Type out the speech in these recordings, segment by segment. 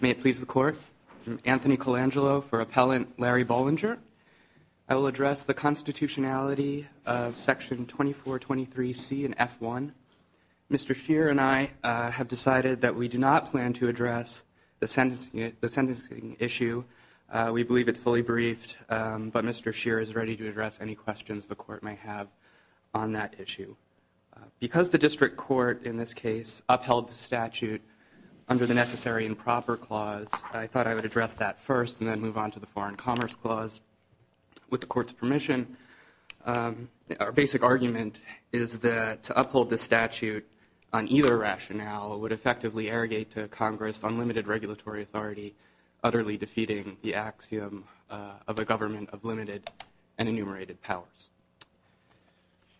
May it please the Court. I'm Anthony Colangelo for Appellant Larry Bollinger. I will address the constitutionality of Section 2423C and F1. Mr. Scheer and I have decided that we do not plan to address the sentencing issue. We believe it's fully briefed, but Mr. Scheer is ready to address any questions the Court may have on that issue. Because the District Court in this case upheld the statute under the Necessary and Proper Clause, I thought I would address that first and then move on to the Foreign Commerce Clause with the Court's permission. Our basic argument is that to uphold the statute on either rationale would effectively arrogate to Congress unlimited regulatory authority, utterly defeating the axiom of a government of limited and enumerated powers.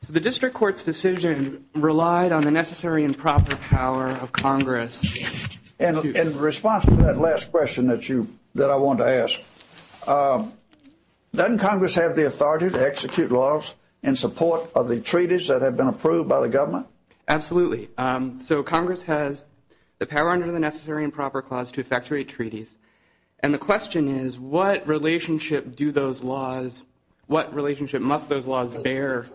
The District Court's decision relied on the necessary and proper power of Congress. In response to that last question that I wanted to ask, doesn't Congress have the authority to execute laws in support of the treaties that have been approved by the government? Absolutely. So Congress has the power under the Necessary and Proper Clause to effectuate treaties. And the question is, what relationship do those laws, what relationship must those laws bear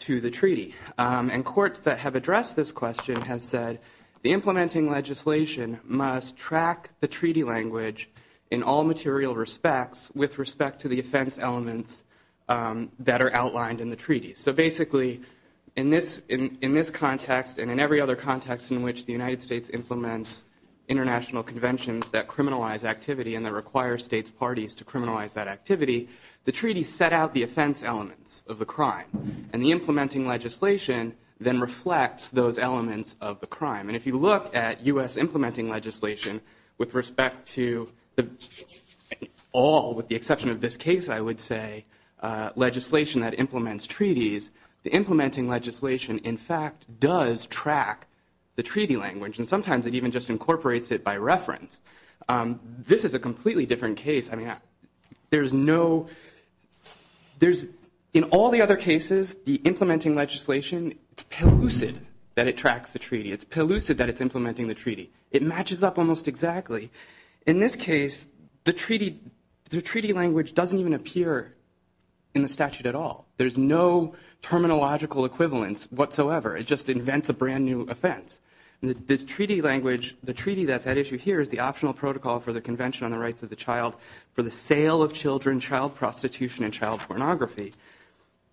to the treaty? And courts that have addressed this question have said the implementing legislation must track the treaty language in all material respects with respect to the offense elements that are outlined in the treaty. So basically, in this context and in every other context in which the United States implements international conventions that criminalize activity and that require states' parties to criminalize that activity, the treaty set out the offense elements of the crime. And the implementing legislation then reflects those elements of the crime. And if you look at U.S. implementing legislation with respect to all, with the exception of this case, I would say, legislation that implements treaties, the implementing legislation, in fact, does track the treaty language. And sometimes it even just incorporates it by reference. This is a completely different case. In all the other cases, the implementing legislation, it's pellucid that it tracks the treaty. It's pellucid that it's implementing the treaty. It matches up almost exactly. In this case, the treaty language doesn't even appear in the statute at all. There's no terminological equivalence whatsoever. It just invents a brand-new offense. The treaty language, the treaty that's at issue here is the optional protocol for the Convention on the Rights of the Child for the sale of children, child prostitution, and child pornography.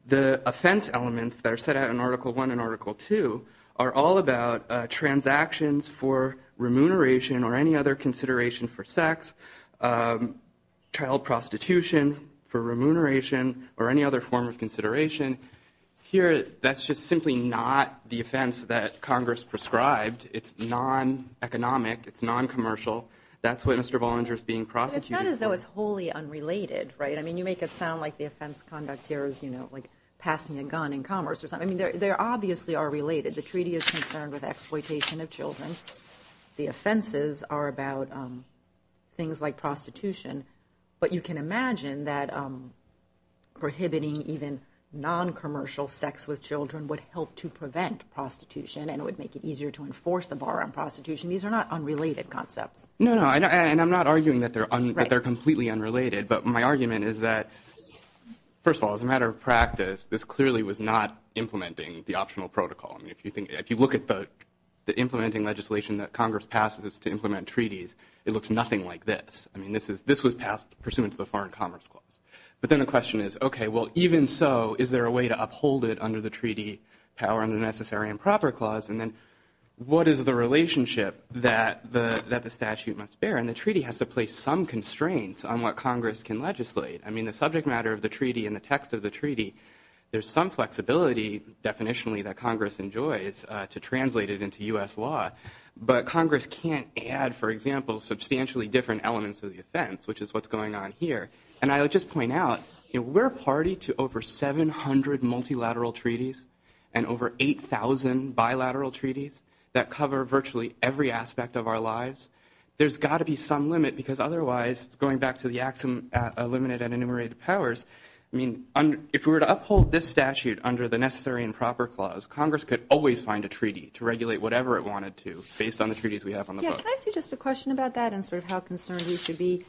The offense elements that are set out in Article I and Article II are all about transactions for remuneration or any other consideration for sex, child prostitution for remuneration, or any other form of consideration. Here, that's just simply not the offense that Congress prescribed. It's non-economic. It's non-commercial. That's what Mr. Bollinger is being prosecuted for. It's not as though it's wholly unrelated, right? I mean, you make it sound like the offense conduct here is, you know, like passing a gun in commerce or something. I mean, they obviously are related. The treaty is concerned with exploitation of children. The offenses are about things like prostitution. But you can imagine that prohibiting even non-commercial sex with children would help to prevent prostitution and would make it easier to enforce the bar on prostitution. These are not unrelated concepts. No, no, and I'm not arguing that they're completely unrelated. But my argument is that, first of all, as a matter of practice, this clearly was not implementing the optional protocol. I mean, if you look at the implementing legislation that Congress passed to implement treaties, it looks nothing like this. I mean, this was passed pursuant to the Foreign Commerce Clause. But then the question is, okay, well, even so, is there a way to uphold it under the treaty power under the Necessary and Proper Clause? And then what is the relationship that the statute must bear? And the treaty has to place some constraints on what Congress can legislate. I mean, the subject matter of the treaty and the text of the treaty, there's some flexibility, definitionally, that Congress enjoys to translate it into U.S. law. But Congress can't add, for example, substantially different elements of the offense, which is what's going on here. And I would just point out, you know, we're a party to over 700 multilateral treaties and over 8,000 bilateral treaties that cover virtually every aspect of our lives. There's got to be some limit because otherwise, going back to the axiom of limited and enumerated powers, I mean, if we were to uphold this statute under the Necessary and Proper Clause, Congress could always find a treaty to regulate whatever it wanted to based on the treaties we have on the books. Yeah, can I ask you just a question about that and sort of how concerned we should be?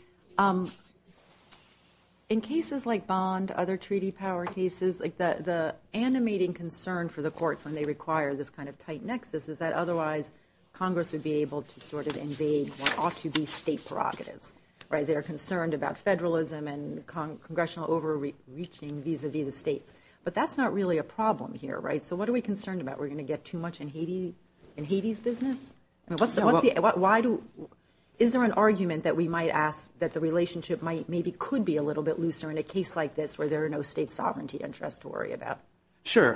In cases like Bond, other treaty power cases, like the animating concern for the courts when they require this kind of tight nexus is that otherwise, Congress would be able to sort of invade what ought to be state prerogatives, right? They're concerned about federalism and congressional overreaching vis-a-vis the states. But that's not really a problem here, right? So what are we concerned about? We're going to get too much in Haiti's business? Is there an argument that we might ask that the relationship maybe could be a little bit looser in a case like this where there are no state sovereignty interests to worry about? Sure.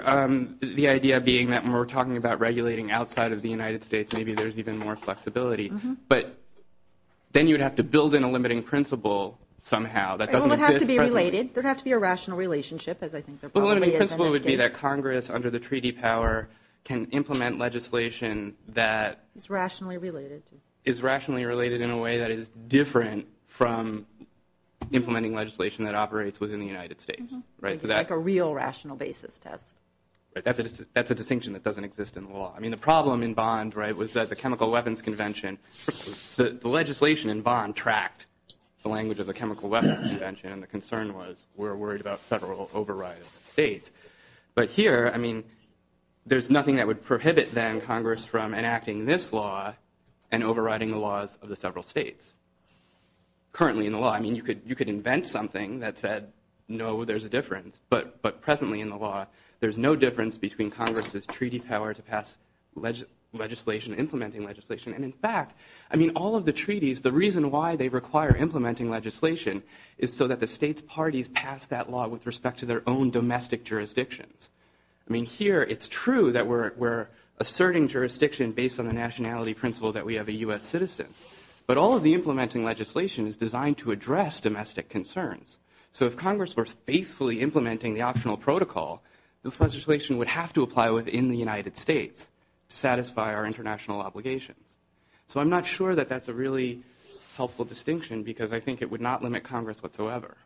The idea being that when we're talking about regulating outside of the United States, maybe there's even more flexibility. But then you'd have to build in a limiting principle somehow that doesn't exist presently. There would have to be a rational relationship, as I think there probably is in this case. The principle would be that Congress, under the treaty power, can implement legislation that is rationally related in a way that is different from implementing legislation that operates within the United States. Like a real rational basis test. That's a distinction that doesn't exist in law. I mean, the problem in Bond was that the Chemical Weapons Convention, the legislation in Bond tracked the language of the Chemical Weapons Convention, and the concern was we're worried about federal override of the states. But here, I mean, there's nothing that would prohibit then Congress from enacting this law and overriding the laws of the several states. Currently in the law, I mean, you could invent something that said, no, there's a difference. But presently in the law, there's no difference between Congress's treaty power to pass legislation, implementing legislation. And in fact, I mean, all of the treaties, the reason why they require implementing legislation is so that the states' parties pass that law with respect to their own domestic jurisdictions. I mean, here it's true that we're asserting jurisdiction based on the nationality principle that we have a U.S. citizen. But all of the implementing legislation is designed to address domestic concerns. So if Congress were faithfully implementing the optional protocol, this legislation would have to apply within the United States to satisfy our international obligations. So I'm not sure that that's a really helpful distinction because I think it would not limit Congress whatsoever.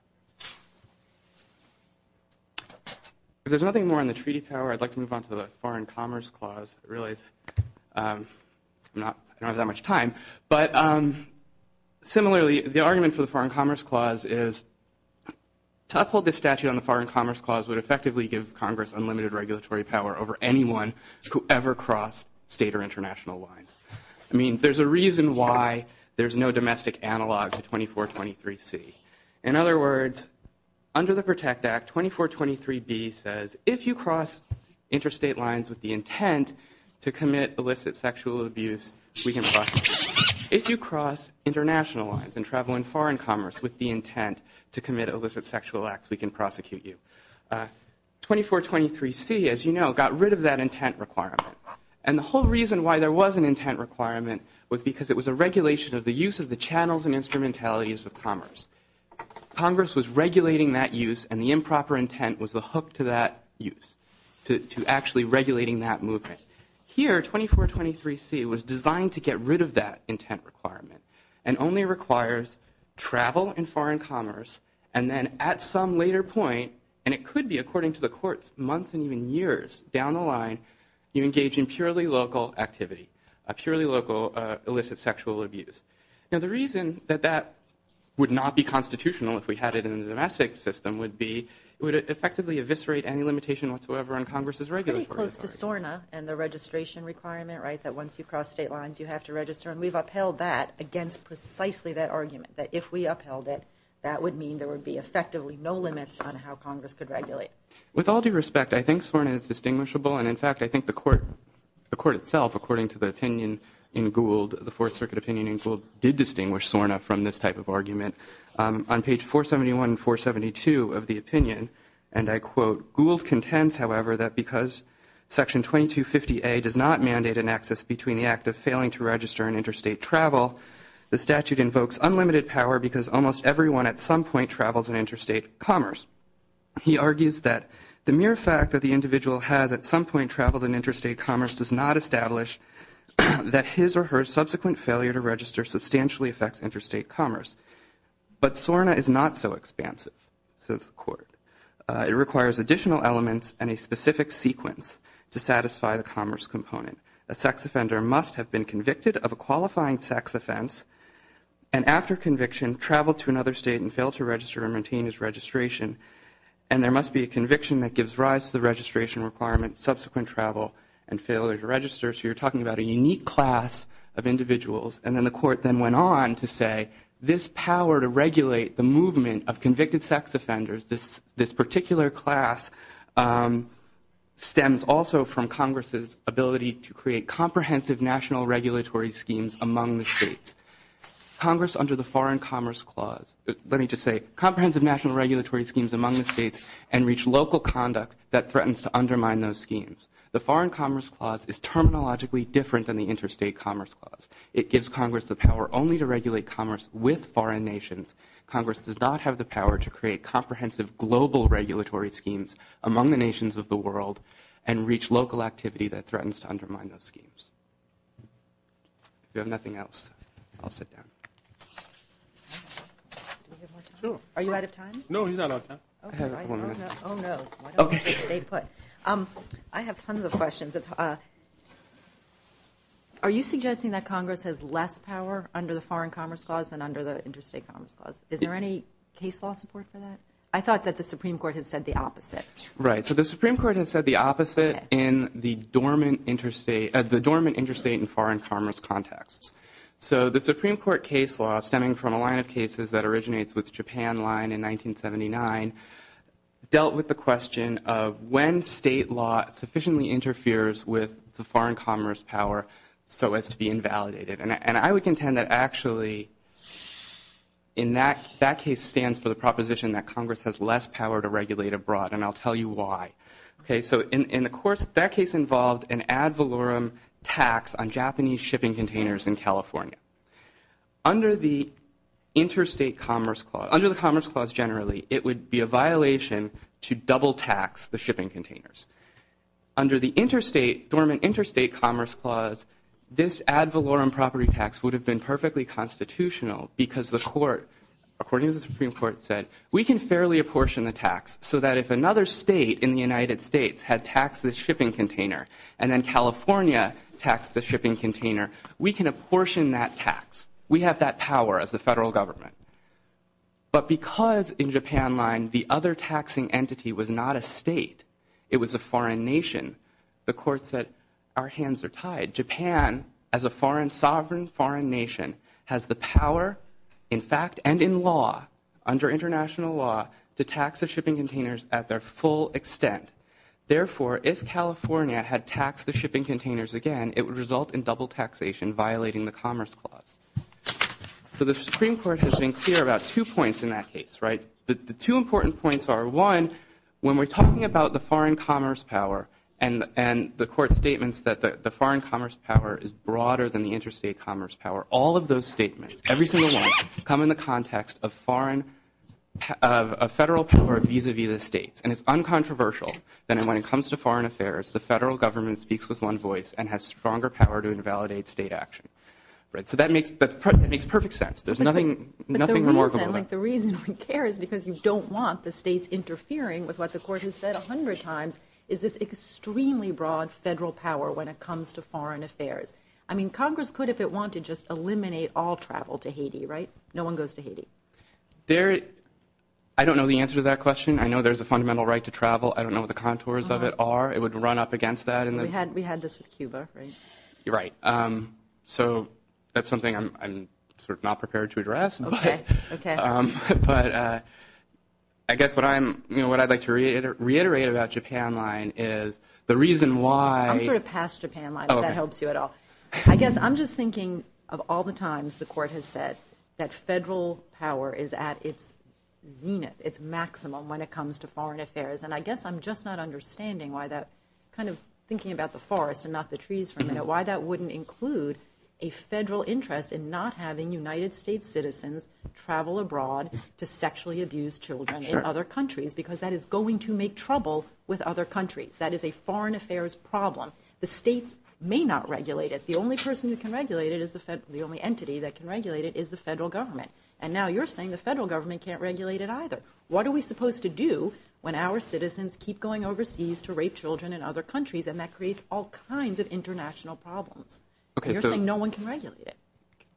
If there's nothing more on the treaty power, I'd like to move on to the Foreign Commerce Clause. I realize I don't have that much time. But similarly, the argument for the Foreign Commerce Clause is to uphold the statute on the Foreign Commerce Clause would effectively give Congress unlimited regulatory power over anyone who ever crossed state or international lines. I mean, there's a reason why there's no domestic analog to 2423C. In other words, under the PROTECT Act, 2423B says if you cross interstate lines with the intent to commit illicit sexual abuse, we can prosecute you. If you cross international lines and travel in foreign commerce with the intent to commit illicit sexual acts, we can prosecute you. 2423C, as you know, got rid of that intent requirement. And the whole reason why there was an intent requirement was because it was a regulation of the use of the channels and instrumentalities of commerce. Congress was regulating that use and the improper intent was the hook to that use, to actually regulating that movement. Here, 2423C was designed to get rid of that intent requirement and only requires travel in foreign commerce and then at some later point, and it could be according to the courts, months and even years down the line, you engage in purely local activity, a purely local illicit sexual abuse. Now, the reason that that would not be constitutional if we had it in the domestic system would be it would effectively eviscerate any limitation whatsoever on Congress' regulatory authority. Pretty close to SORNA and the registration requirement, right, that once you cross state lines, you have to register. And we've upheld that against precisely that argument, that if we upheld it, that would mean there would be effectively no limits on how Congress could regulate. With all due respect, I think SORNA is distinguishable. And, in fact, I think the court itself, according to the opinion in Gould, the Fourth Circuit opinion in Gould, did distinguish SORNA from this type of argument. On page 471 and 472 of the opinion, and I quote, Gould contends, however, that because Section 2250A does not mandate an access between the act of failing to register and interstate travel, the statute invokes unlimited power because almost everyone at some point travels in interstate commerce. He argues that the mere fact that the individual has at some point traveled in interstate commerce does not establish that his or her subsequent failure to register substantially affects interstate commerce. But SORNA is not so expansive, says the court. It requires additional elements and a specific sequence to satisfy the commerce component. A sex offender must have been convicted of a qualifying sex offense and, after conviction, traveled to another state and failed to register and maintain his registration. And there must be a conviction that gives rise to the registration requirement, subsequent travel, and failure to register. So you're talking about a unique class of individuals. And then the court then went on to say this power to regulate the movement of convicted sex offenders, this particular class, stems also from Congress's ability to create comprehensive national regulatory schemes among the states. Congress, under the Foreign Commerce Clause, let me just say, comprehensive national regulatory schemes among the states and reach local conduct that threatens to undermine those schemes. The Foreign Commerce Clause is terminologically different than the Interstate Commerce Clause. It gives Congress the power only to regulate commerce with foreign nations. Congress does not have the power to create comprehensive global regulatory schemes among the nations of the world and reach local activity that threatens to undermine those schemes. If you have nothing else, I'll sit down. Are you out of time? No, he's not out of time. Oh, no. I have tons of questions. Are you suggesting that Congress has less power under the Foreign Commerce Clause than under the Interstate Commerce Clause? Is there any case law support for that? I thought that the Supreme Court had said the opposite. Right. So the Supreme Court has said the opposite in the dormant interstate and foreign commerce contexts. So the Supreme Court case law, stemming from a line of cases that originates with the Japan line in 1979, dealt with the question of when state law sufficiently interferes with the foreign commerce power so as to be invalidated. And I would contend that actually in that case stands for the proposition that Congress has less power to regulate abroad, and I'll tell you why. Okay, so in the courts, that case involved an ad valorem tax on Japanese shipping containers in California. Under the Interstate Commerce Clause, under the Commerce Clause generally, it would be a violation to double tax the shipping containers. Under the dormant Interstate Commerce Clause, this ad valorem property tax would have been perfectly constitutional because the court, according to the Supreme Court, said we can fairly apportion the tax so that if another state in the United States had taxed the shipping container and then California taxed the shipping container, we can apportion that tax. We have that power as the federal government. But because in Japan line the other taxing entity was not a state, it was a foreign nation, the court said our hands are tied. Japan, as a sovereign foreign nation, has the power, in fact, and in law, under international law, to tax the shipping containers at their full extent. Therefore, if California had taxed the shipping containers again, it would result in double taxation violating the Commerce Clause. So the Supreme Court has been clear about two points in that case, right? The two important points are, one, when we're talking about the foreign commerce power and the court's statements that the foreign commerce power is broader than the interstate commerce power, all of those statements, every single one, come in the context of foreign, a federal power vis-a-vis the states. And it's uncontroversial that when it comes to foreign affairs, the federal government speaks with one voice and has stronger power to invalidate state action. So that makes perfect sense. There's nothing remarkable about it. But the reason we care is because you don't want the states interfering with what the court has said a hundred times, is this extremely broad federal power when it comes to foreign affairs. I mean, Congress could, if it wanted, just eliminate all travel to Haiti, right? No one goes to Haiti. I don't know the answer to that question. I know there's a fundamental right to travel. I don't know what the contours of it are. It would run up against that. We had this with Cuba, right? Right. So that's something I'm sort of not prepared to address. Okay, okay. But I guess what I'd like to reiterate about Japan Line is the reason why. I'm sort of past Japan Line, if that helps you at all. I guess I'm just thinking of all the times the court has said that federal power is at its zenith, its maximum when it comes to foreign affairs. And I guess I'm just not understanding why that kind of thinking about the forest and not the trees for a minute, why that wouldn't include a federal interest in not having United States citizens travel abroad to sexually abuse children in other countries because that is going to make trouble with other countries. That is a foreign affairs problem. The states may not regulate it. The only entity that can regulate it is the federal government. And now you're saying the federal government can't regulate it either. What are we supposed to do when our citizens keep going overseas to rape children in other countries and that creates all kinds of international problems? You're saying no one can regulate it.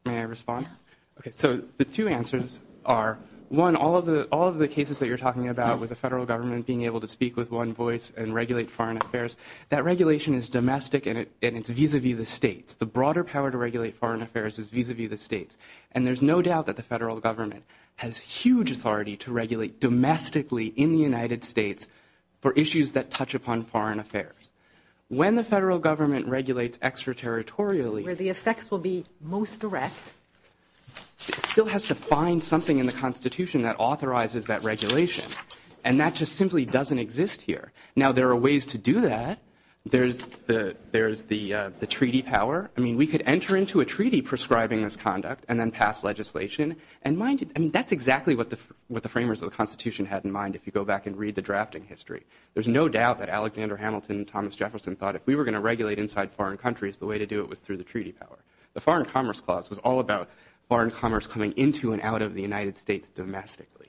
May I respond? Yeah. Okay, so the two answers are, one, all of the cases that you're talking about with the federal government being able to speak with one voice and regulate foreign affairs, that regulation is domestic and it's vis-a-vis the states. The broader power to regulate foreign affairs is vis-a-vis the states. And there's no doubt that the federal government has huge authority to regulate domestically in the United States for issues that touch upon foreign affairs. When the federal government regulates extraterritorially, where the effects will be most direct, it still has to find something in the Constitution that authorizes that regulation. And that just simply doesn't exist here. Now, there are ways to do that. There's the treaty power. I mean, we could enter into a treaty prescribing this conduct and then pass legislation. I mean, that's exactly what the framers of the Constitution had in mind if you go back and read the drafting history. There's no doubt that Alexander Hamilton and Thomas Jefferson thought if we were going to regulate inside foreign countries, the way to do it was through the treaty power. The Foreign Commerce Clause was all about foreign commerce coming into and out of the United States domestically.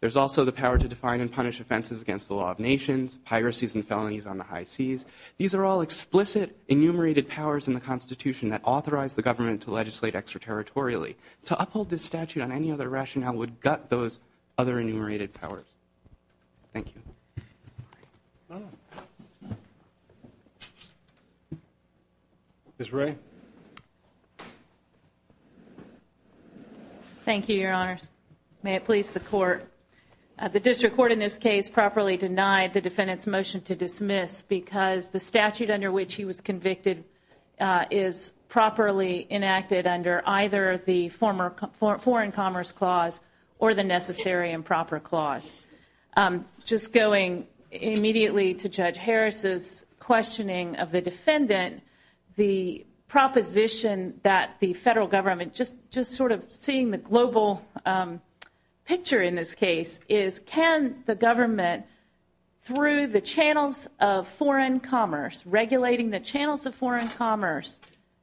There's also the power to define and punish offenses against the law of nations, piracies and felonies on the high seas. These are all explicit enumerated powers in the Constitution that authorize the government to legislate extraterritorially. To uphold this statute on any other rationale would gut those other enumerated powers. Thank you. Ms. Ray. Thank you, Your Honors. May it please the Court. The District Court in this case properly denied the defendant's motion to dismiss because the statute under which he was convicted is properly enacted under either the Foreign Commerce Clause or the Necessary and Proper Clause. Just going immediately to Judge Harris's questioning of the defendant, the proposition that the federal government, just sort of seeing the global picture in this case, is can the government through the channels of foreign commerce, regulating the channels of foreign commerce,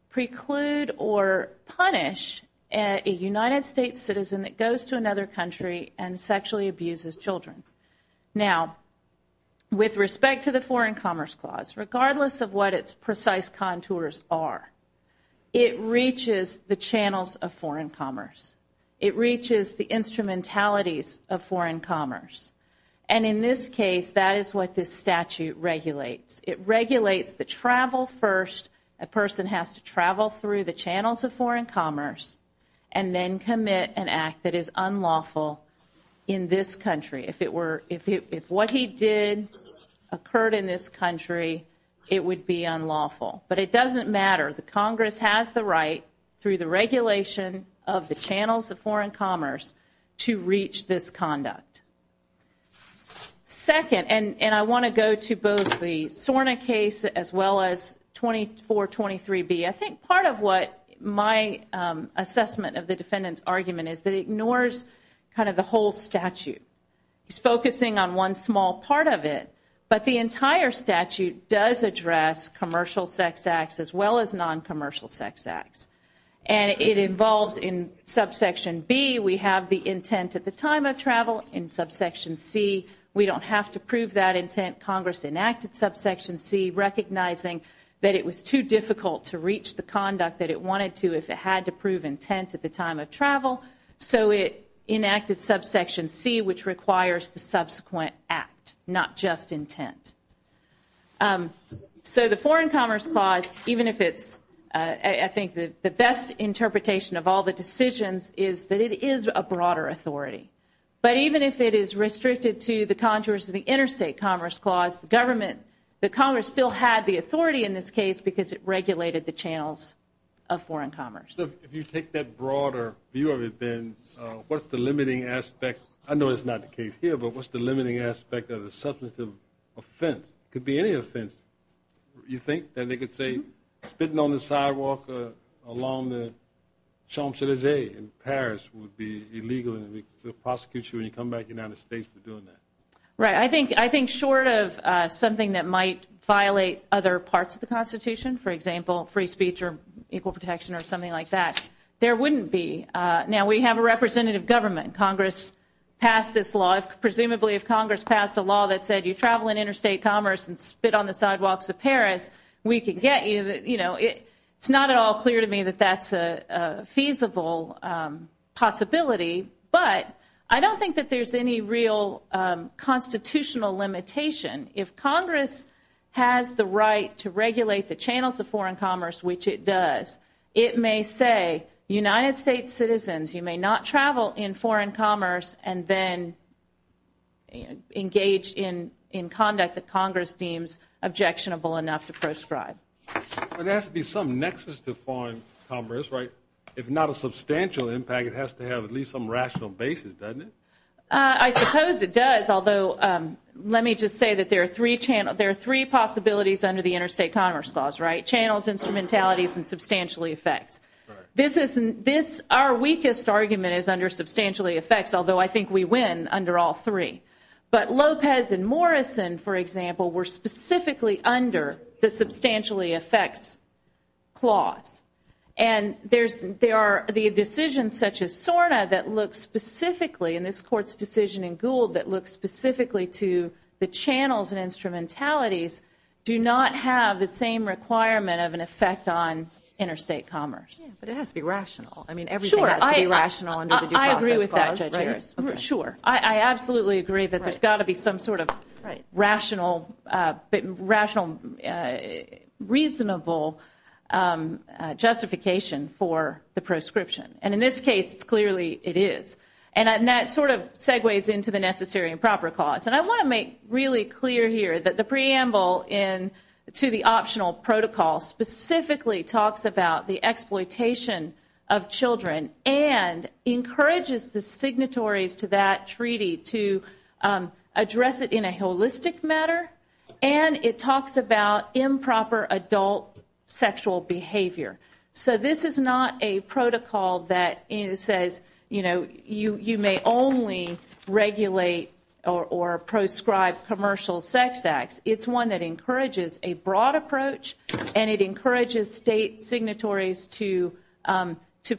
preclude or punish a United States citizen that goes to another country and sexually abuses children. Now, with respect to the Foreign Commerce Clause, regardless of what its precise contours are, it reaches the channels of foreign commerce. It reaches the instrumentalities of foreign commerce. And in this case, that is what this statute regulates. It regulates the travel first. A person has to travel through the channels of foreign commerce and then commit an act that is unlawful in this country. If what he did occurred in this country, it would be unlawful. But it doesn't matter. The Congress has the right through the regulation of the channels of foreign commerce to reach this conduct. Second, and I want to go to both the SORNA case as well as 2423B. I think part of what my assessment of the defendant's argument is that it ignores kind of the whole statute. It's focusing on one small part of it, but the entire statute does address commercial sex acts as well as non-commercial sex acts. And it involves in Subsection B, we have the intent at the time of travel. In Subsection C, we don't have to prove that intent. Congress enacted Subsection C recognizing that it was too difficult to reach the conduct that it wanted to if it had to prove intent at the time of travel. So it enacted Subsection C, which requires the subsequent act, not just intent. So the Foreign Commerce Clause, even if it's I think the best interpretation of all the decisions, is that it is a broader authority. But even if it is restricted to the contours of the Interstate Commerce Clause, the Congress still had the authority in this case because it regulated the channels of foreign commerce. So if you take that broader view of it, then what's the limiting aspect? I know it's not the case here, but what's the limiting aspect of the substantive offense? It could be any offense. You think that they could say spitting on the sidewalk along the Champs-Élysées in Paris would be illegal to prosecute you when you come back to the United States for doing that? Right. I think short of something that might violate other parts of the Constitution, for example, free speech or equal protection or something like that, there wouldn't be. Now, we have a representative government. Congress passed this law. Presumably if Congress passed a law that said you travel in interstate commerce and spit on the sidewalks of Paris, we could get you. It's not at all clear to me that that's a feasible possibility, but I don't think that there's any real constitutional limitation. If Congress has the right to regulate the channels of foreign commerce, which it does, it may say United States citizens, you may not travel in foreign commerce and then engage in conduct that Congress deems objectionable enough to prescribe. There has to be some nexus to foreign commerce, right? If not a substantial impact, it has to have at least some rational basis, doesn't it? I suppose it does, although let me just say that there are three possibilities under the Interstate Commerce Clause, right? Channels, instrumentalities, and substantially effects. Our weakest argument is under substantially effects, although I think we win under all three. But Lopez and Morrison, for example, were specifically under the substantially effects clause. And the decisions such as SORNA that look specifically, and this Court's decision in Gould that looks specifically to the channels and instrumentalities, do not have the same requirement of an effect on interstate commerce. But it has to be rational. I mean, everything has to be rational under the due process clause, right? Sure, I agree with that, Judge Harris. Sure. I absolutely agree that there's got to be some sort of rational, reasonable justification for the prescription. And in this case, clearly it is. And that sort of segues into the necessary and proper clause. And I want to make really clear here that the preamble to the optional protocol specifically talks about the exploitation of children and encourages the signatories to that treaty to address it in a holistic matter, and it talks about improper adult sexual behavior. So this is not a protocol that says, you know, you may only regulate or prescribe commercial sex acts. It's one that encourages a broad approach, and it encourages state signatories to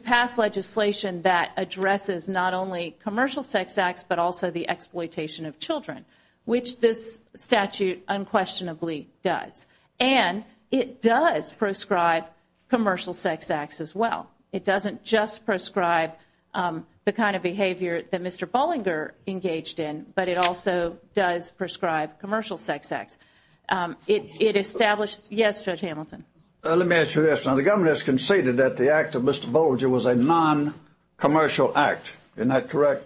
pass legislation that addresses not only commercial sex acts, but also the exploitation of children, which this statute unquestionably does. And it does prescribe commercial sex acts as well. It doesn't just prescribe the kind of behavior that Mr. Bollinger engaged in, but it also does prescribe commercial sex acts. It establishes yes, Judge Hamilton. Let me ask you this. Now, the government has conceded that the act of Mr. Bollinger was a non-commercial act. Isn't that correct?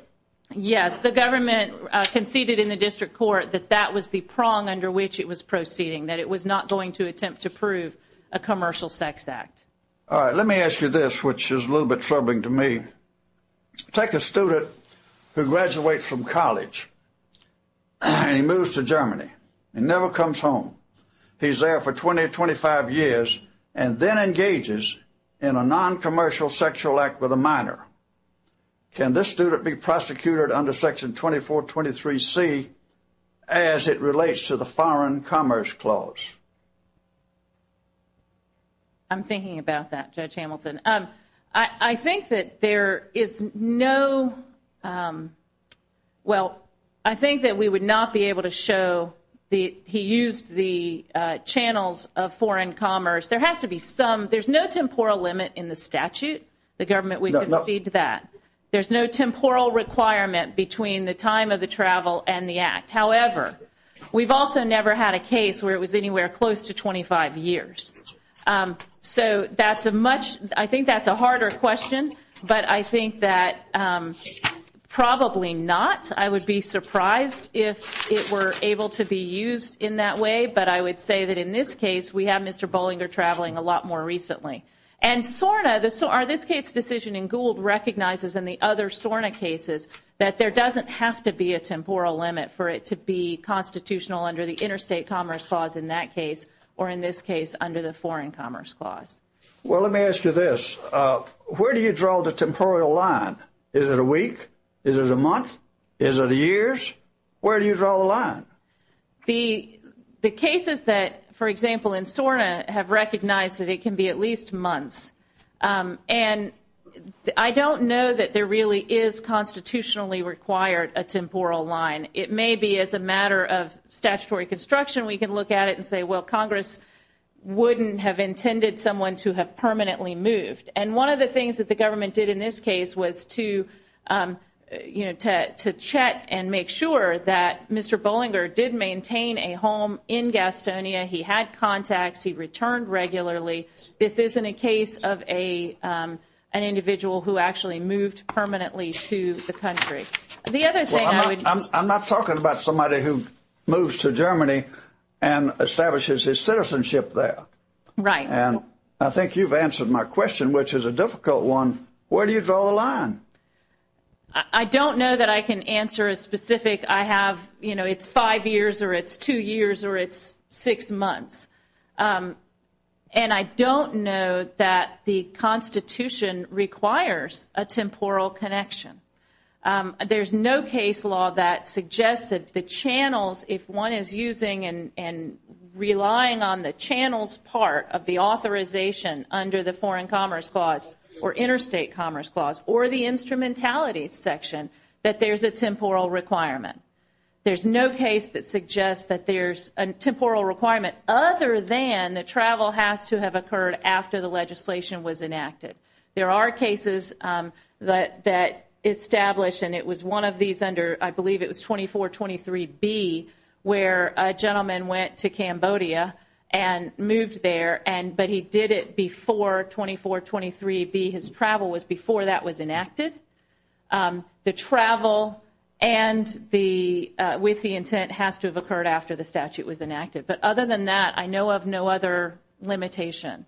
Yes. The government conceded in the district court that that was the prong under which it was proceeding, that it was not going to attempt to prove a commercial sex act. All right. Let me ask you this, which is a little bit troubling to me. Take a student who graduates from college and he moves to Germany and never comes home. He's there for 20 or 25 years and then engages in a non-commercial sexual act with a minor. Can this student be prosecuted under Section 2423C as it relates to the Foreign Commerce Clause? I'm thinking about that, Judge Hamilton. I think that there is no – well, I think that we would not be able to show the – he used the channels of foreign commerce. There has to be some – there's no temporal limit in the statute. The government would concede to that. There's no temporal requirement between the time of the travel and the act. However, we've also never had a case where it was anywhere close to 25 years. So that's a much – I think that's a harder question, but I think that probably not. I would be surprised if it were able to be used in that way, but I would say that in this case we have Mr. Bollinger traveling a lot more recently. And SORNA, this case decision in Gould, recognizes in the other SORNA cases that there doesn't have to be a temporal limit for it to be constitutional under the Interstate Commerce Clause in that case or in this case under the Foreign Commerce Clause. Well, let me ask you this. Where do you draw the temporal line? Is it a week? Is it a month? Is it years? Where do you draw the line? The cases that, for example, in SORNA have recognized that it can be at least months. And I don't know that there really is constitutionally required a temporal line. It may be as a matter of statutory construction we can look at it and say, well, Congress wouldn't have intended someone to have permanently moved. And one of the things that the government did in this case was to check and make sure that Mr. Bollinger did maintain a home in Gastonia. He had contacts. He returned regularly. This isn't a case of an individual who actually moved permanently to the country. The other thing I would – Well, I'm not talking about somebody who moves to Germany and establishes his citizenship there. Right. And I think you've answered my question, which is a difficult one. Where do you draw the line? I don't know that I can answer a specific I have – you know, it's five years or it's two years or it's six months. And I don't know that the Constitution requires a temporal connection. There's no case law that suggests that the channels, if one is using and relying on the channels part of the authorization under the Foreign Commerce Clause or Interstate Commerce Clause or the instrumentality section, that there's a temporal requirement. There's no case that suggests that there's a temporal requirement other than that travel has to have occurred after the legislation was enacted. There are cases that establish, and it was one of these under – I believe it was 2423B where a gentleman went to Cambodia and moved there, but he did it before 2423B. His travel was before that was enacted. The travel with the intent has to have occurred after the statute was enacted. But other than that, I know of no other limitation,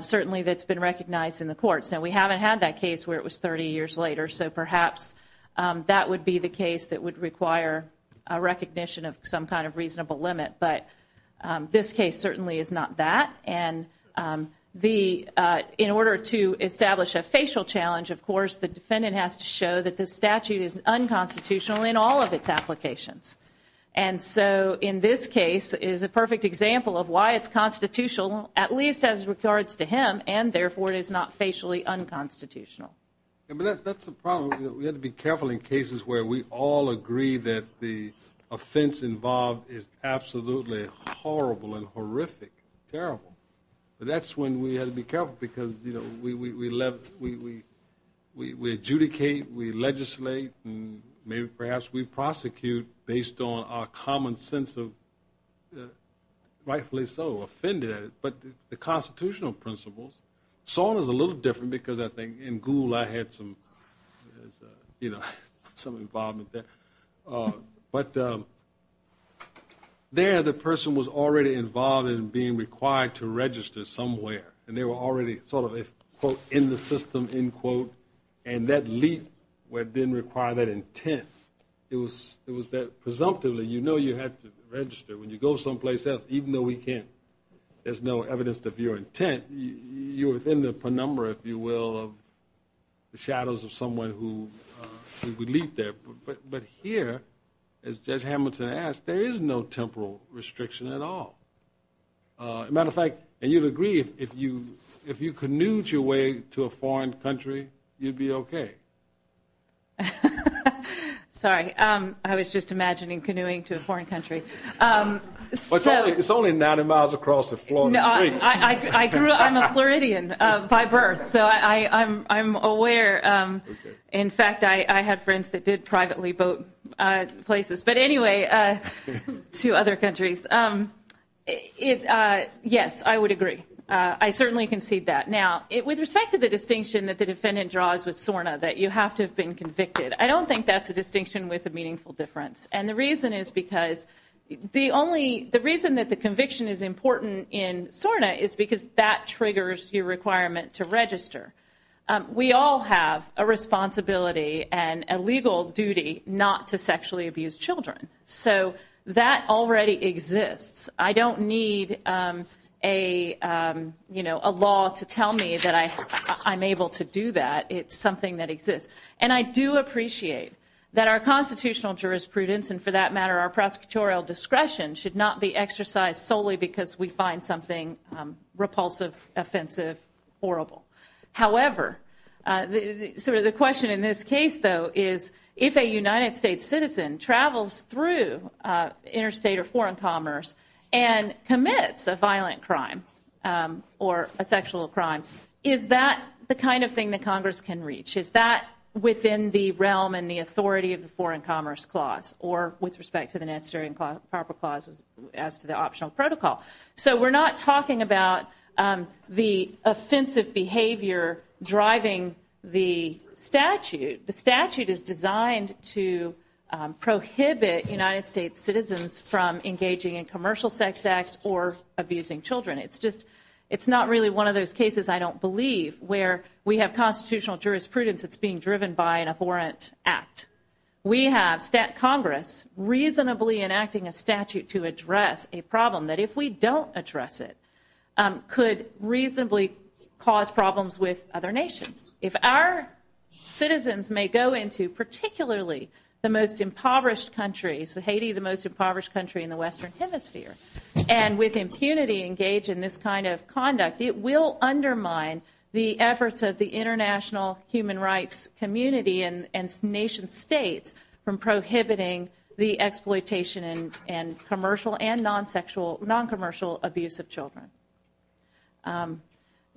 certainly that's been recognized in the courts. Now, we haven't had that case where it was 30 years later, so perhaps that would be the case that would require a recognition of some kind of reasonable limit. But this case certainly is not that. And in order to establish a facial challenge, of course, the defendant has to show that the statute is unconstitutional in all of its applications. And so in this case, it is a perfect example of why it's constitutional, at least as regards to him, and therefore it is not facially unconstitutional. That's the problem. You know, we have to be careful in cases where we all agree that the offense involved is absolutely horrible and horrific, terrible. But that's when we have to be careful because, you know, we adjudicate, we legislate, and maybe perhaps we prosecute based on our common sense of rightfully so, offended at it. But the constitutional principles – In Gould, I had some involvement there. But there, the person was already involved in being required to register somewhere, and they were already sort of, quote, in the system, end quote, and that leap didn't require that intent. It was that presumptively you know you have to register. When you go someplace else, even though we can't, there's no evidence to view intent, you're within the penumbra, if you will, of the shadows of someone who would leap there. But here, as Judge Hamilton asked, there is no temporal restriction at all. As a matter of fact, and you'd agree, if you canoeed your way to a foreign country, you'd be okay. Sorry. I was just imagining canoeing to a foreign country. It's only 90 miles across the Florida streets. I'm a Floridian by birth, so I'm aware. In fact, I had friends that did privately boat places. But anyway, to other countries, yes, I would agree. I certainly concede that. Now, with respect to the distinction that the defendant draws with SORNA, that you have to have been convicted, I don't think that's a distinction with a meaningful difference. And the reason is because the reason that the conviction is important in SORNA is because that triggers your requirement to register. We all have a responsibility and a legal duty not to sexually abuse children. So that already exists. I don't need a law to tell me that I'm able to do that. It's something that exists. And I do appreciate that our constitutional jurisprudence and, for that matter, our prosecutorial discretion should not be exercised solely because we find something repulsive, offensive, horrible. However, sort of the question in this case, though, is if a United States citizen travels through interstate or foreign commerce and commits a violent crime or a sexual crime, is that the kind of thing that Congress can reach? Is that within the realm and the authority of the Foreign Commerce Clause or with respect to the Necessary and Proper Clause as to the optional protocol? So we're not talking about the offensive behavior driving the statute. The statute is designed to prohibit United States citizens from engaging in commercial sex acts or abusing children. It's not really one of those cases, I don't believe, where we have constitutional jurisprudence that's being driven by an abhorrent act. We have Congress reasonably enacting a statute to address a problem that, if we don't address it, could reasonably cause problems with other nations. If our citizens may go into particularly the most impoverished countries, Haiti the most impoverished country in the Western Hemisphere, and with impunity engage in this kind of conduct, it will undermine the efforts of the international human rights community and nation states from prohibiting the exploitation and commercial and non-commercial abuse of children.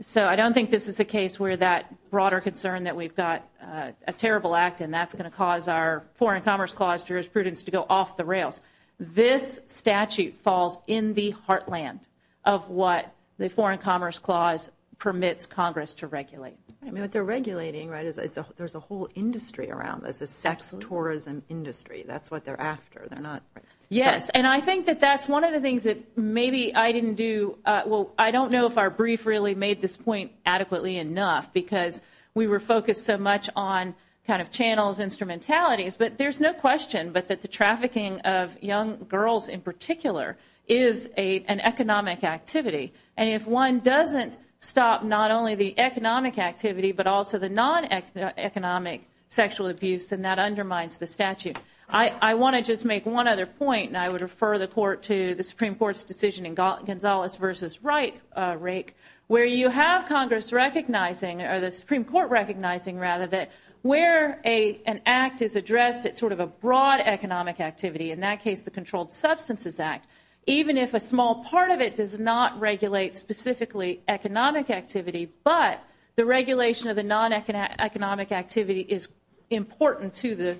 So I don't think this is a case where that broader concern that we've got a terrible act and that's going to cause our Foreign Commerce Clause jurisprudence to go off the rails. This statute falls in the heartland of what the Foreign Commerce Clause permits Congress to regulate. I mean, what they're regulating, right, is there's a whole industry around this, a sex tourism industry. That's what they're after. Yes, and I think that that's one of the things that maybe I didn't do. Well, I don't know if our brief really made this point adequately enough, because we were focused so much on kind of channels, instrumentalities, but there's no question but that the trafficking of young girls in particular is an economic activity. And if one doesn't stop not only the economic activity but also the non-economic sexual abuse, then that undermines the statute. I want to just make one other point, and I would refer the Court to the Supreme Court's decision in Gonzalez v. Reich where you have Congress recognizing, or the Supreme Court recognizing rather, that where an act is addressed, it's sort of a broad economic activity. In that case, the Controlled Substances Act. Even if a small part of it does not regulate specifically economic activity, but the regulation of the non-economic activity is important to the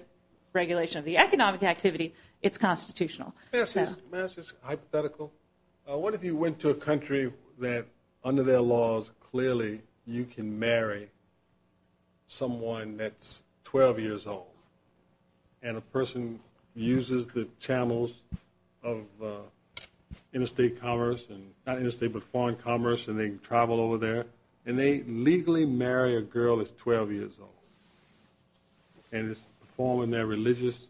regulation of the economic activity, it's constitutional. May I ask just a hypothetical? What if you went to a country that under their laws clearly you can marry someone that's 12 years old and a person uses the channels of interstate commerce, not interstate but foreign commerce, and they travel over there, and they legally marry a girl that's 12 years old and is performing their religious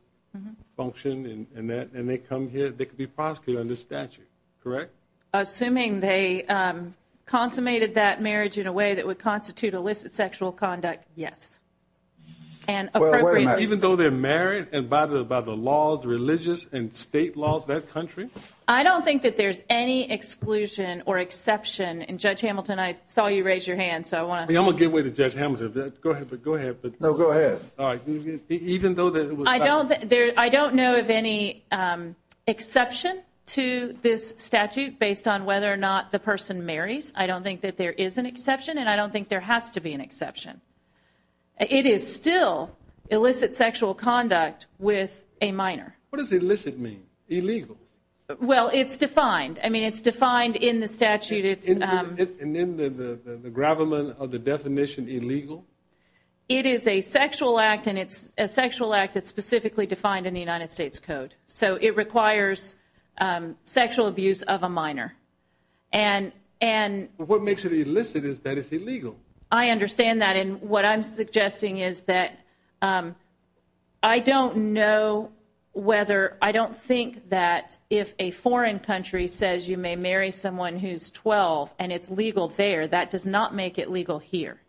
function, and they come here, they could be prosecuted under statute, correct? Assuming they consummated that marriage in a way that would constitute illicit sexual conduct, yes. And appropriately so. Even though they're married and by the laws, the religious and state laws of that country? I don't think that there's any exclusion or exception. And Judge Hamilton, I saw you raise your hand, so I want to... I'm going to give way to Judge Hamilton. Go ahead, but... No, go ahead. All right. Even though there was... I don't know of any exception to this statute based on whether or not the person marries. I don't think that there is an exception, and I don't think there has to be an exception. It is still illicit sexual conduct with a minor. What does illicit mean, illegal? Well, it's defined. I mean, it's defined in the statute. And then the gravamen of the definition illegal? It is a sexual act, and it's a sexual act that's specifically defined in the United States Code. So it requires sexual abuse of a minor. What makes it illicit is that it's illegal. I understand that, and what I'm suggesting is that I don't know whether... and it's legal there. That does not make it legal here.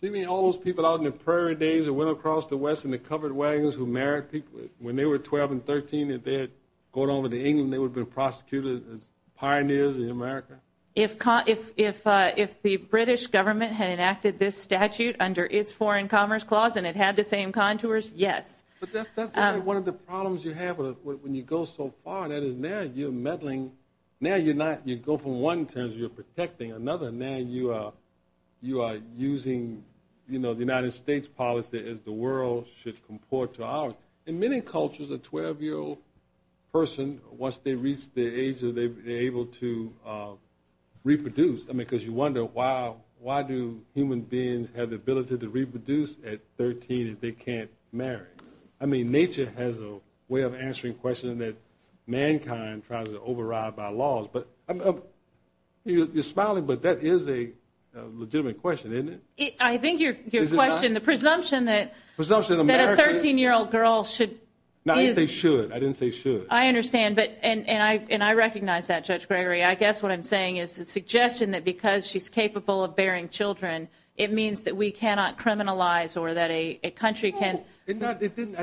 So you mean all those people out in the prairie days that went across the West in the covered wagons who married people, when they were 12 and 13 and they had gone over to England, they would have been prosecuted as pioneers in America? If the British government had enacted this statute under its Foreign Commerce Clause and it had the same contours, yes. But that's one of the problems you have when you go so far, and that is now you're meddling. Now you're not. You go from one in terms of you're protecting another, and now you are using the United States policy as the world should comport to ours. In many cultures, a 12-year-old person, once they reach the age that they're able to reproduce, I mean, because you wonder why do human beings have the ability to reproduce at 13 if they can't marry? I mean, nature has a way of answering questions that mankind tries to override by laws. You're smiling, but that is a legitimate question, isn't it? I think your question, the presumption that a 13-year-old girl should... I didn't say should. I understand, and I recognize that, Judge Gregory. I guess what I'm saying is the suggestion that because she's capable of bearing children, it means that we cannot criminalize or that a country can... No, I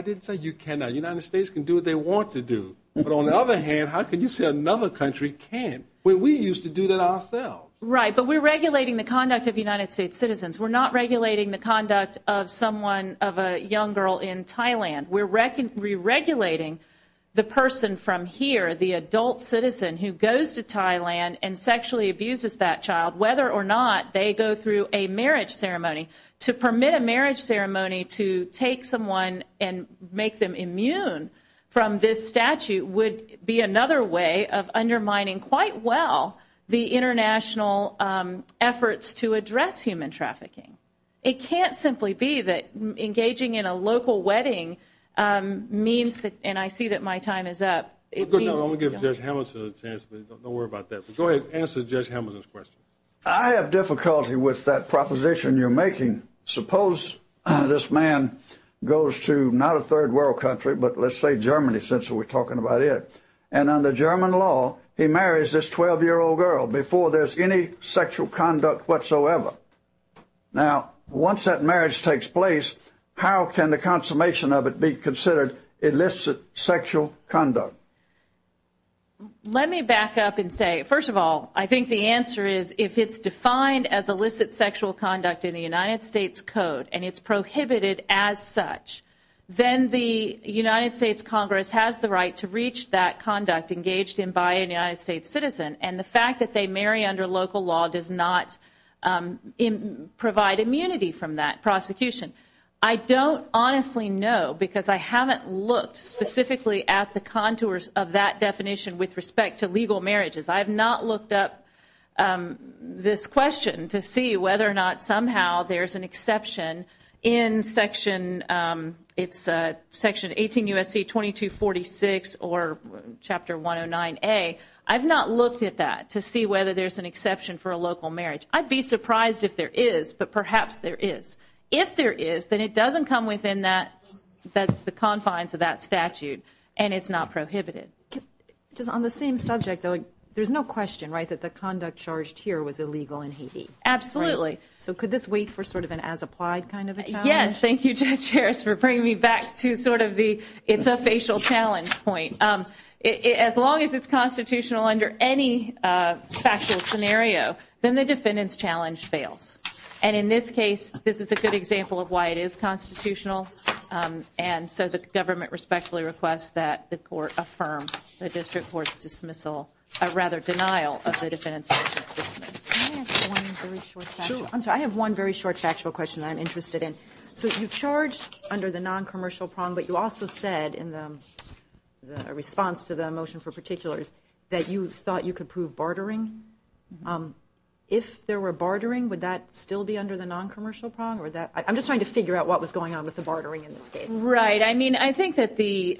didn't say you cannot. The United States can do what they want to do. But on the other hand, how can you say another country can't when we used to do that ourselves? Right, but we're regulating the conduct of United States citizens. We're not regulating the conduct of someone, of a young girl in Thailand. We're re-regulating the person from here, the adult citizen who goes to Thailand and sexually abuses that child whether or not they go through a marriage ceremony. To permit a marriage ceremony to take someone and make them immune from this statute would be another way of undermining quite well the international efforts to address human trafficking. It can't simply be that engaging in a local wedding means that... And I see that my time is up. I'm going to give Judge Hamilton a chance, but don't worry about that. Go ahead, answer Judge Hamilton's question. I have difficulty with that proposition you're making. Suppose this man goes to not a third world country, but let's say Germany since we're talking about it, and under German law he marries this 12-year-old girl before there's any sexual conduct whatsoever. Now, once that marriage takes place, how can the consummation of it be considered illicit sexual conduct? Let me back up and say, first of all, I think the answer is, if it's defined as illicit sexual conduct in the United States Code and it's prohibited as such, then the United States Congress has the right to reach that conduct engaged in by a United States citizen, and the fact that they marry under local law does not provide immunity from that prosecution. I don't honestly know because I haven't looked specifically at the contours of that definition with respect to legal marriages. I have not looked up this question to see whether or not somehow there's an exception in Section 18 U.S.C. 2246 or Chapter 109A. I've not looked at that to see whether there's an exception for a local marriage. I'd be surprised if there is, but perhaps there is. If there is, then it doesn't come within the confines of that statute and it's not prohibited. Just on the same subject, though, there's no question, right, that the conduct charged here was illegal in Haiti, right? Absolutely. So could this wait for sort of an as-applied kind of a challenge? Yes. Thank you, Judge Harris, for bringing me back to sort of the it's a facial challenge point. As long as it's constitutional under any factual scenario, then the defendant's challenge fails. And in this case, this is a good example of why it is constitutional. And so the government respectfully requests that the court affirm the district court's dismissal or rather denial of the defendant's motion to dismiss. I have one very short factual question I'm interested in. So you charged under the noncommercial prong, but you also said in the response to the motion for particulars that you thought you could prove bartering. If there were bartering, would that still be under the noncommercial prong or that I'm just trying to figure out what was going on with the bartering in this case. Right. I mean, I think that the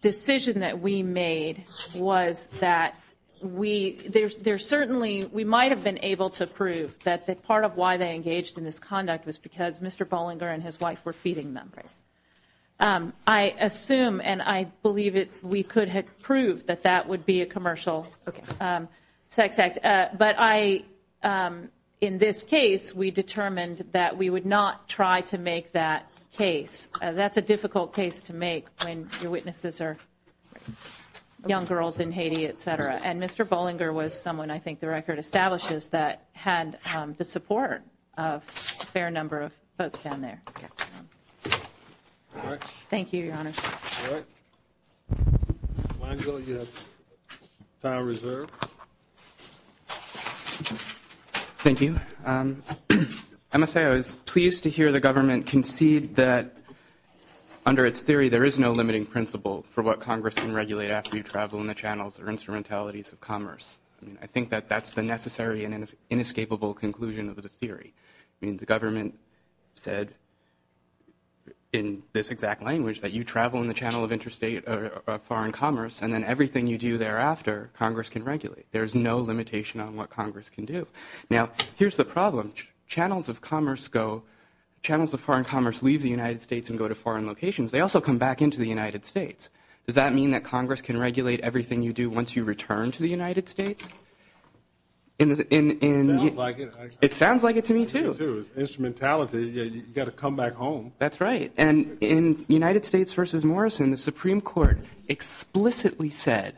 decision that we made was that we there's there certainly we might have been able to prove that the part of why they engaged in this conduct was because Mr. Bollinger and his wife were feeding them. I assume and I believe it we could have proved that that would be a commercial sex act. But I in this case, we determined that we would not try to make that case. That's a difficult case to make when your witnesses are young girls in Haiti, et cetera. And Mr. Bollinger was someone I think the record establishes that had the support of a fair number of folks down there. All right. Thank you, Your Honor. All right. Angel, you have time reserved. Thank you. I must say I was pleased to hear the government concede that under its theory, there is no limiting principle for what Congress can regulate after you travel in the channels or instrumentalities of commerce. I think that that's the necessary and inescapable conclusion of the theory. I mean, the government said in this exact language that you travel in the channel of interstate foreign commerce and then everything you do thereafter, Congress can regulate. There is no limitation on what Congress can do. Now, here's the problem. Channels of commerce go, channels of foreign commerce leave the United States and go to foreign locations. They also come back into the United States. Does that mean that Congress can regulate everything you do once you return to the United States? It sounds like it to me, too. Instrumentality, you've got to come back home. That's right. And in United States v. Morrison, the Supreme Court explicitly said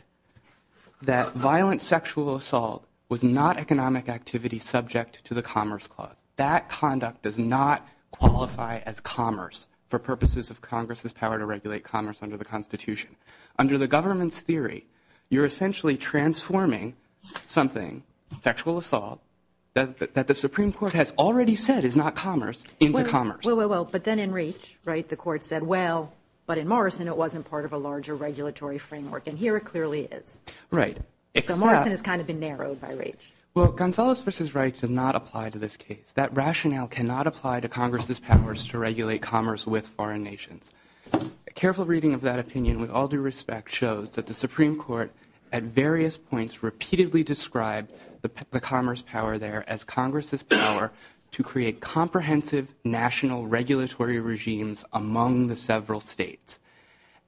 that violent sexual assault was not economic activity subject to the Commerce Clause. That conduct does not qualify as commerce for purposes of Congress's power to regulate commerce under the Constitution. Under the government's theory, you're essentially transforming something, sexual assault, that the Supreme Court has already said is not commerce, into commerce. Well, well, well, but then in Raich, right, the Court said, well, but in Morrison, it wasn't part of a larger regulatory framework. And here it clearly is. Right. So Morrison has kind of been narrowed by Raich. Well, Gonzales v. Raich did not apply to this case. That rationale cannot apply to Congress's powers to regulate commerce with foreign nations. A careful reading of that opinion, with all due respect, shows that the Supreme Court, at various points, repeatedly described the commerce power there as Congress's power to create comprehensive national regulatory regimes among the several states.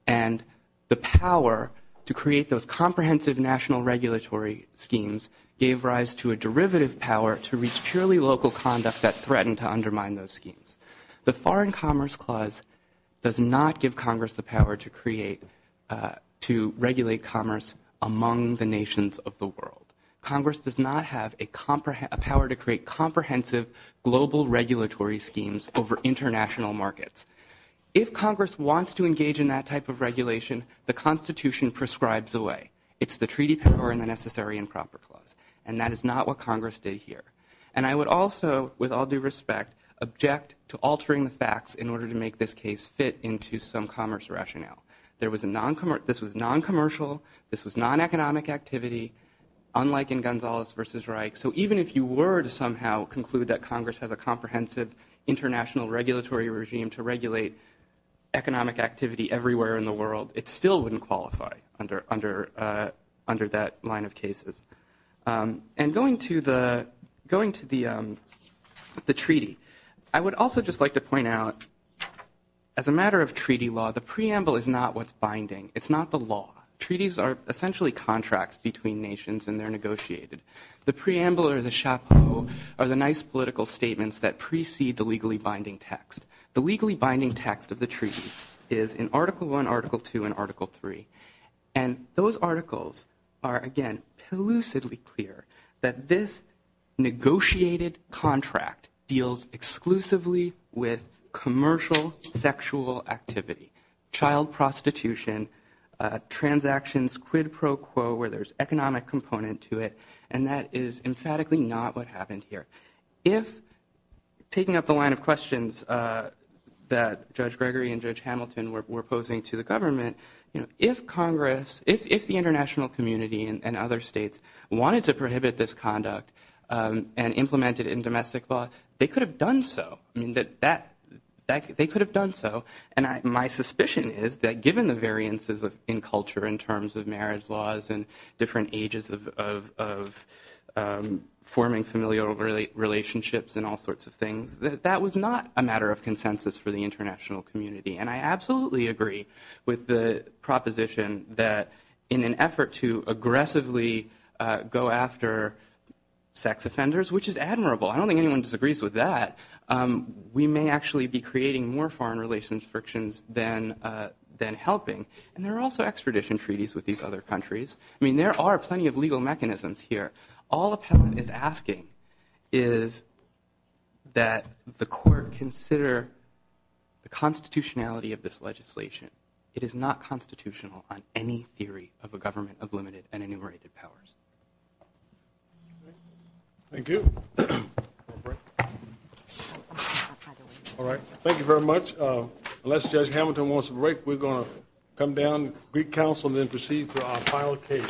And the power to create those comprehensive national regulatory schemes gave rise to a derivative power to reach purely local conduct that threatened to undermine those schemes. The Foreign Commerce Clause does not give Congress the power to create, to regulate commerce among the nations of the world. Congress does not have a power to create comprehensive global regulatory schemes over international markets. If Congress wants to engage in that type of regulation, the Constitution prescribes the way. It's the treaty power in the Necessary and Proper Clause. And that is not what Congress did here. And I would also, with all due respect, object to altering the facts in order to make this case fit into some commerce rationale. This was non-commercial. This was non-economic activity, unlike in Gonzales v. Raich. So even if you were to somehow conclude that Congress has a comprehensive international regulatory regime to regulate economic activity everywhere in the world, it still wouldn't qualify under that line of cases. And going to the treaty, I would also just like to point out, as a matter of treaty law, the preamble is not what's binding. It's not the law. Treaties are essentially contracts between nations, and they're negotiated. The preamble or the chapeau are the nice political statements that precede the legally binding text. The legally binding text of the treaty is in Article I, Article II, and Article III. And those articles are, again, elusively clear that this negotiated contract deals exclusively with commercial sexual activity, child prostitution, transactions quid pro quo, where there's economic component to it. And that is emphatically not what happened here. If, taking up the line of questions that Judge Gregory and Judge Hamilton were posing to the government, if Congress, if the international community and other states wanted to prohibit this conduct and implement it in domestic law, they could have done so. I mean, they could have done so. And my suspicion is that given the variances in culture in terms of marriage laws and different ages of forming familial relationships and all sorts of things, that that was not a matter of consensus for the international community. And I absolutely agree with the proposition that in an effort to aggressively go after sex offenders, which is admirable, I don't think anyone disagrees with that, we may actually be creating more foreign relations frictions than helping. And there are also extradition treaties with these other countries. I mean, there are plenty of legal mechanisms here. All appellant is asking is that the court consider the constitutionality of this legislation. It is not constitutional on any theory of a government of limited and enumerated powers. Thank you. All right. Thank you very much. Unless Judge Hamilton wants to break, we're going to come down. Greek Council then proceed to our final case.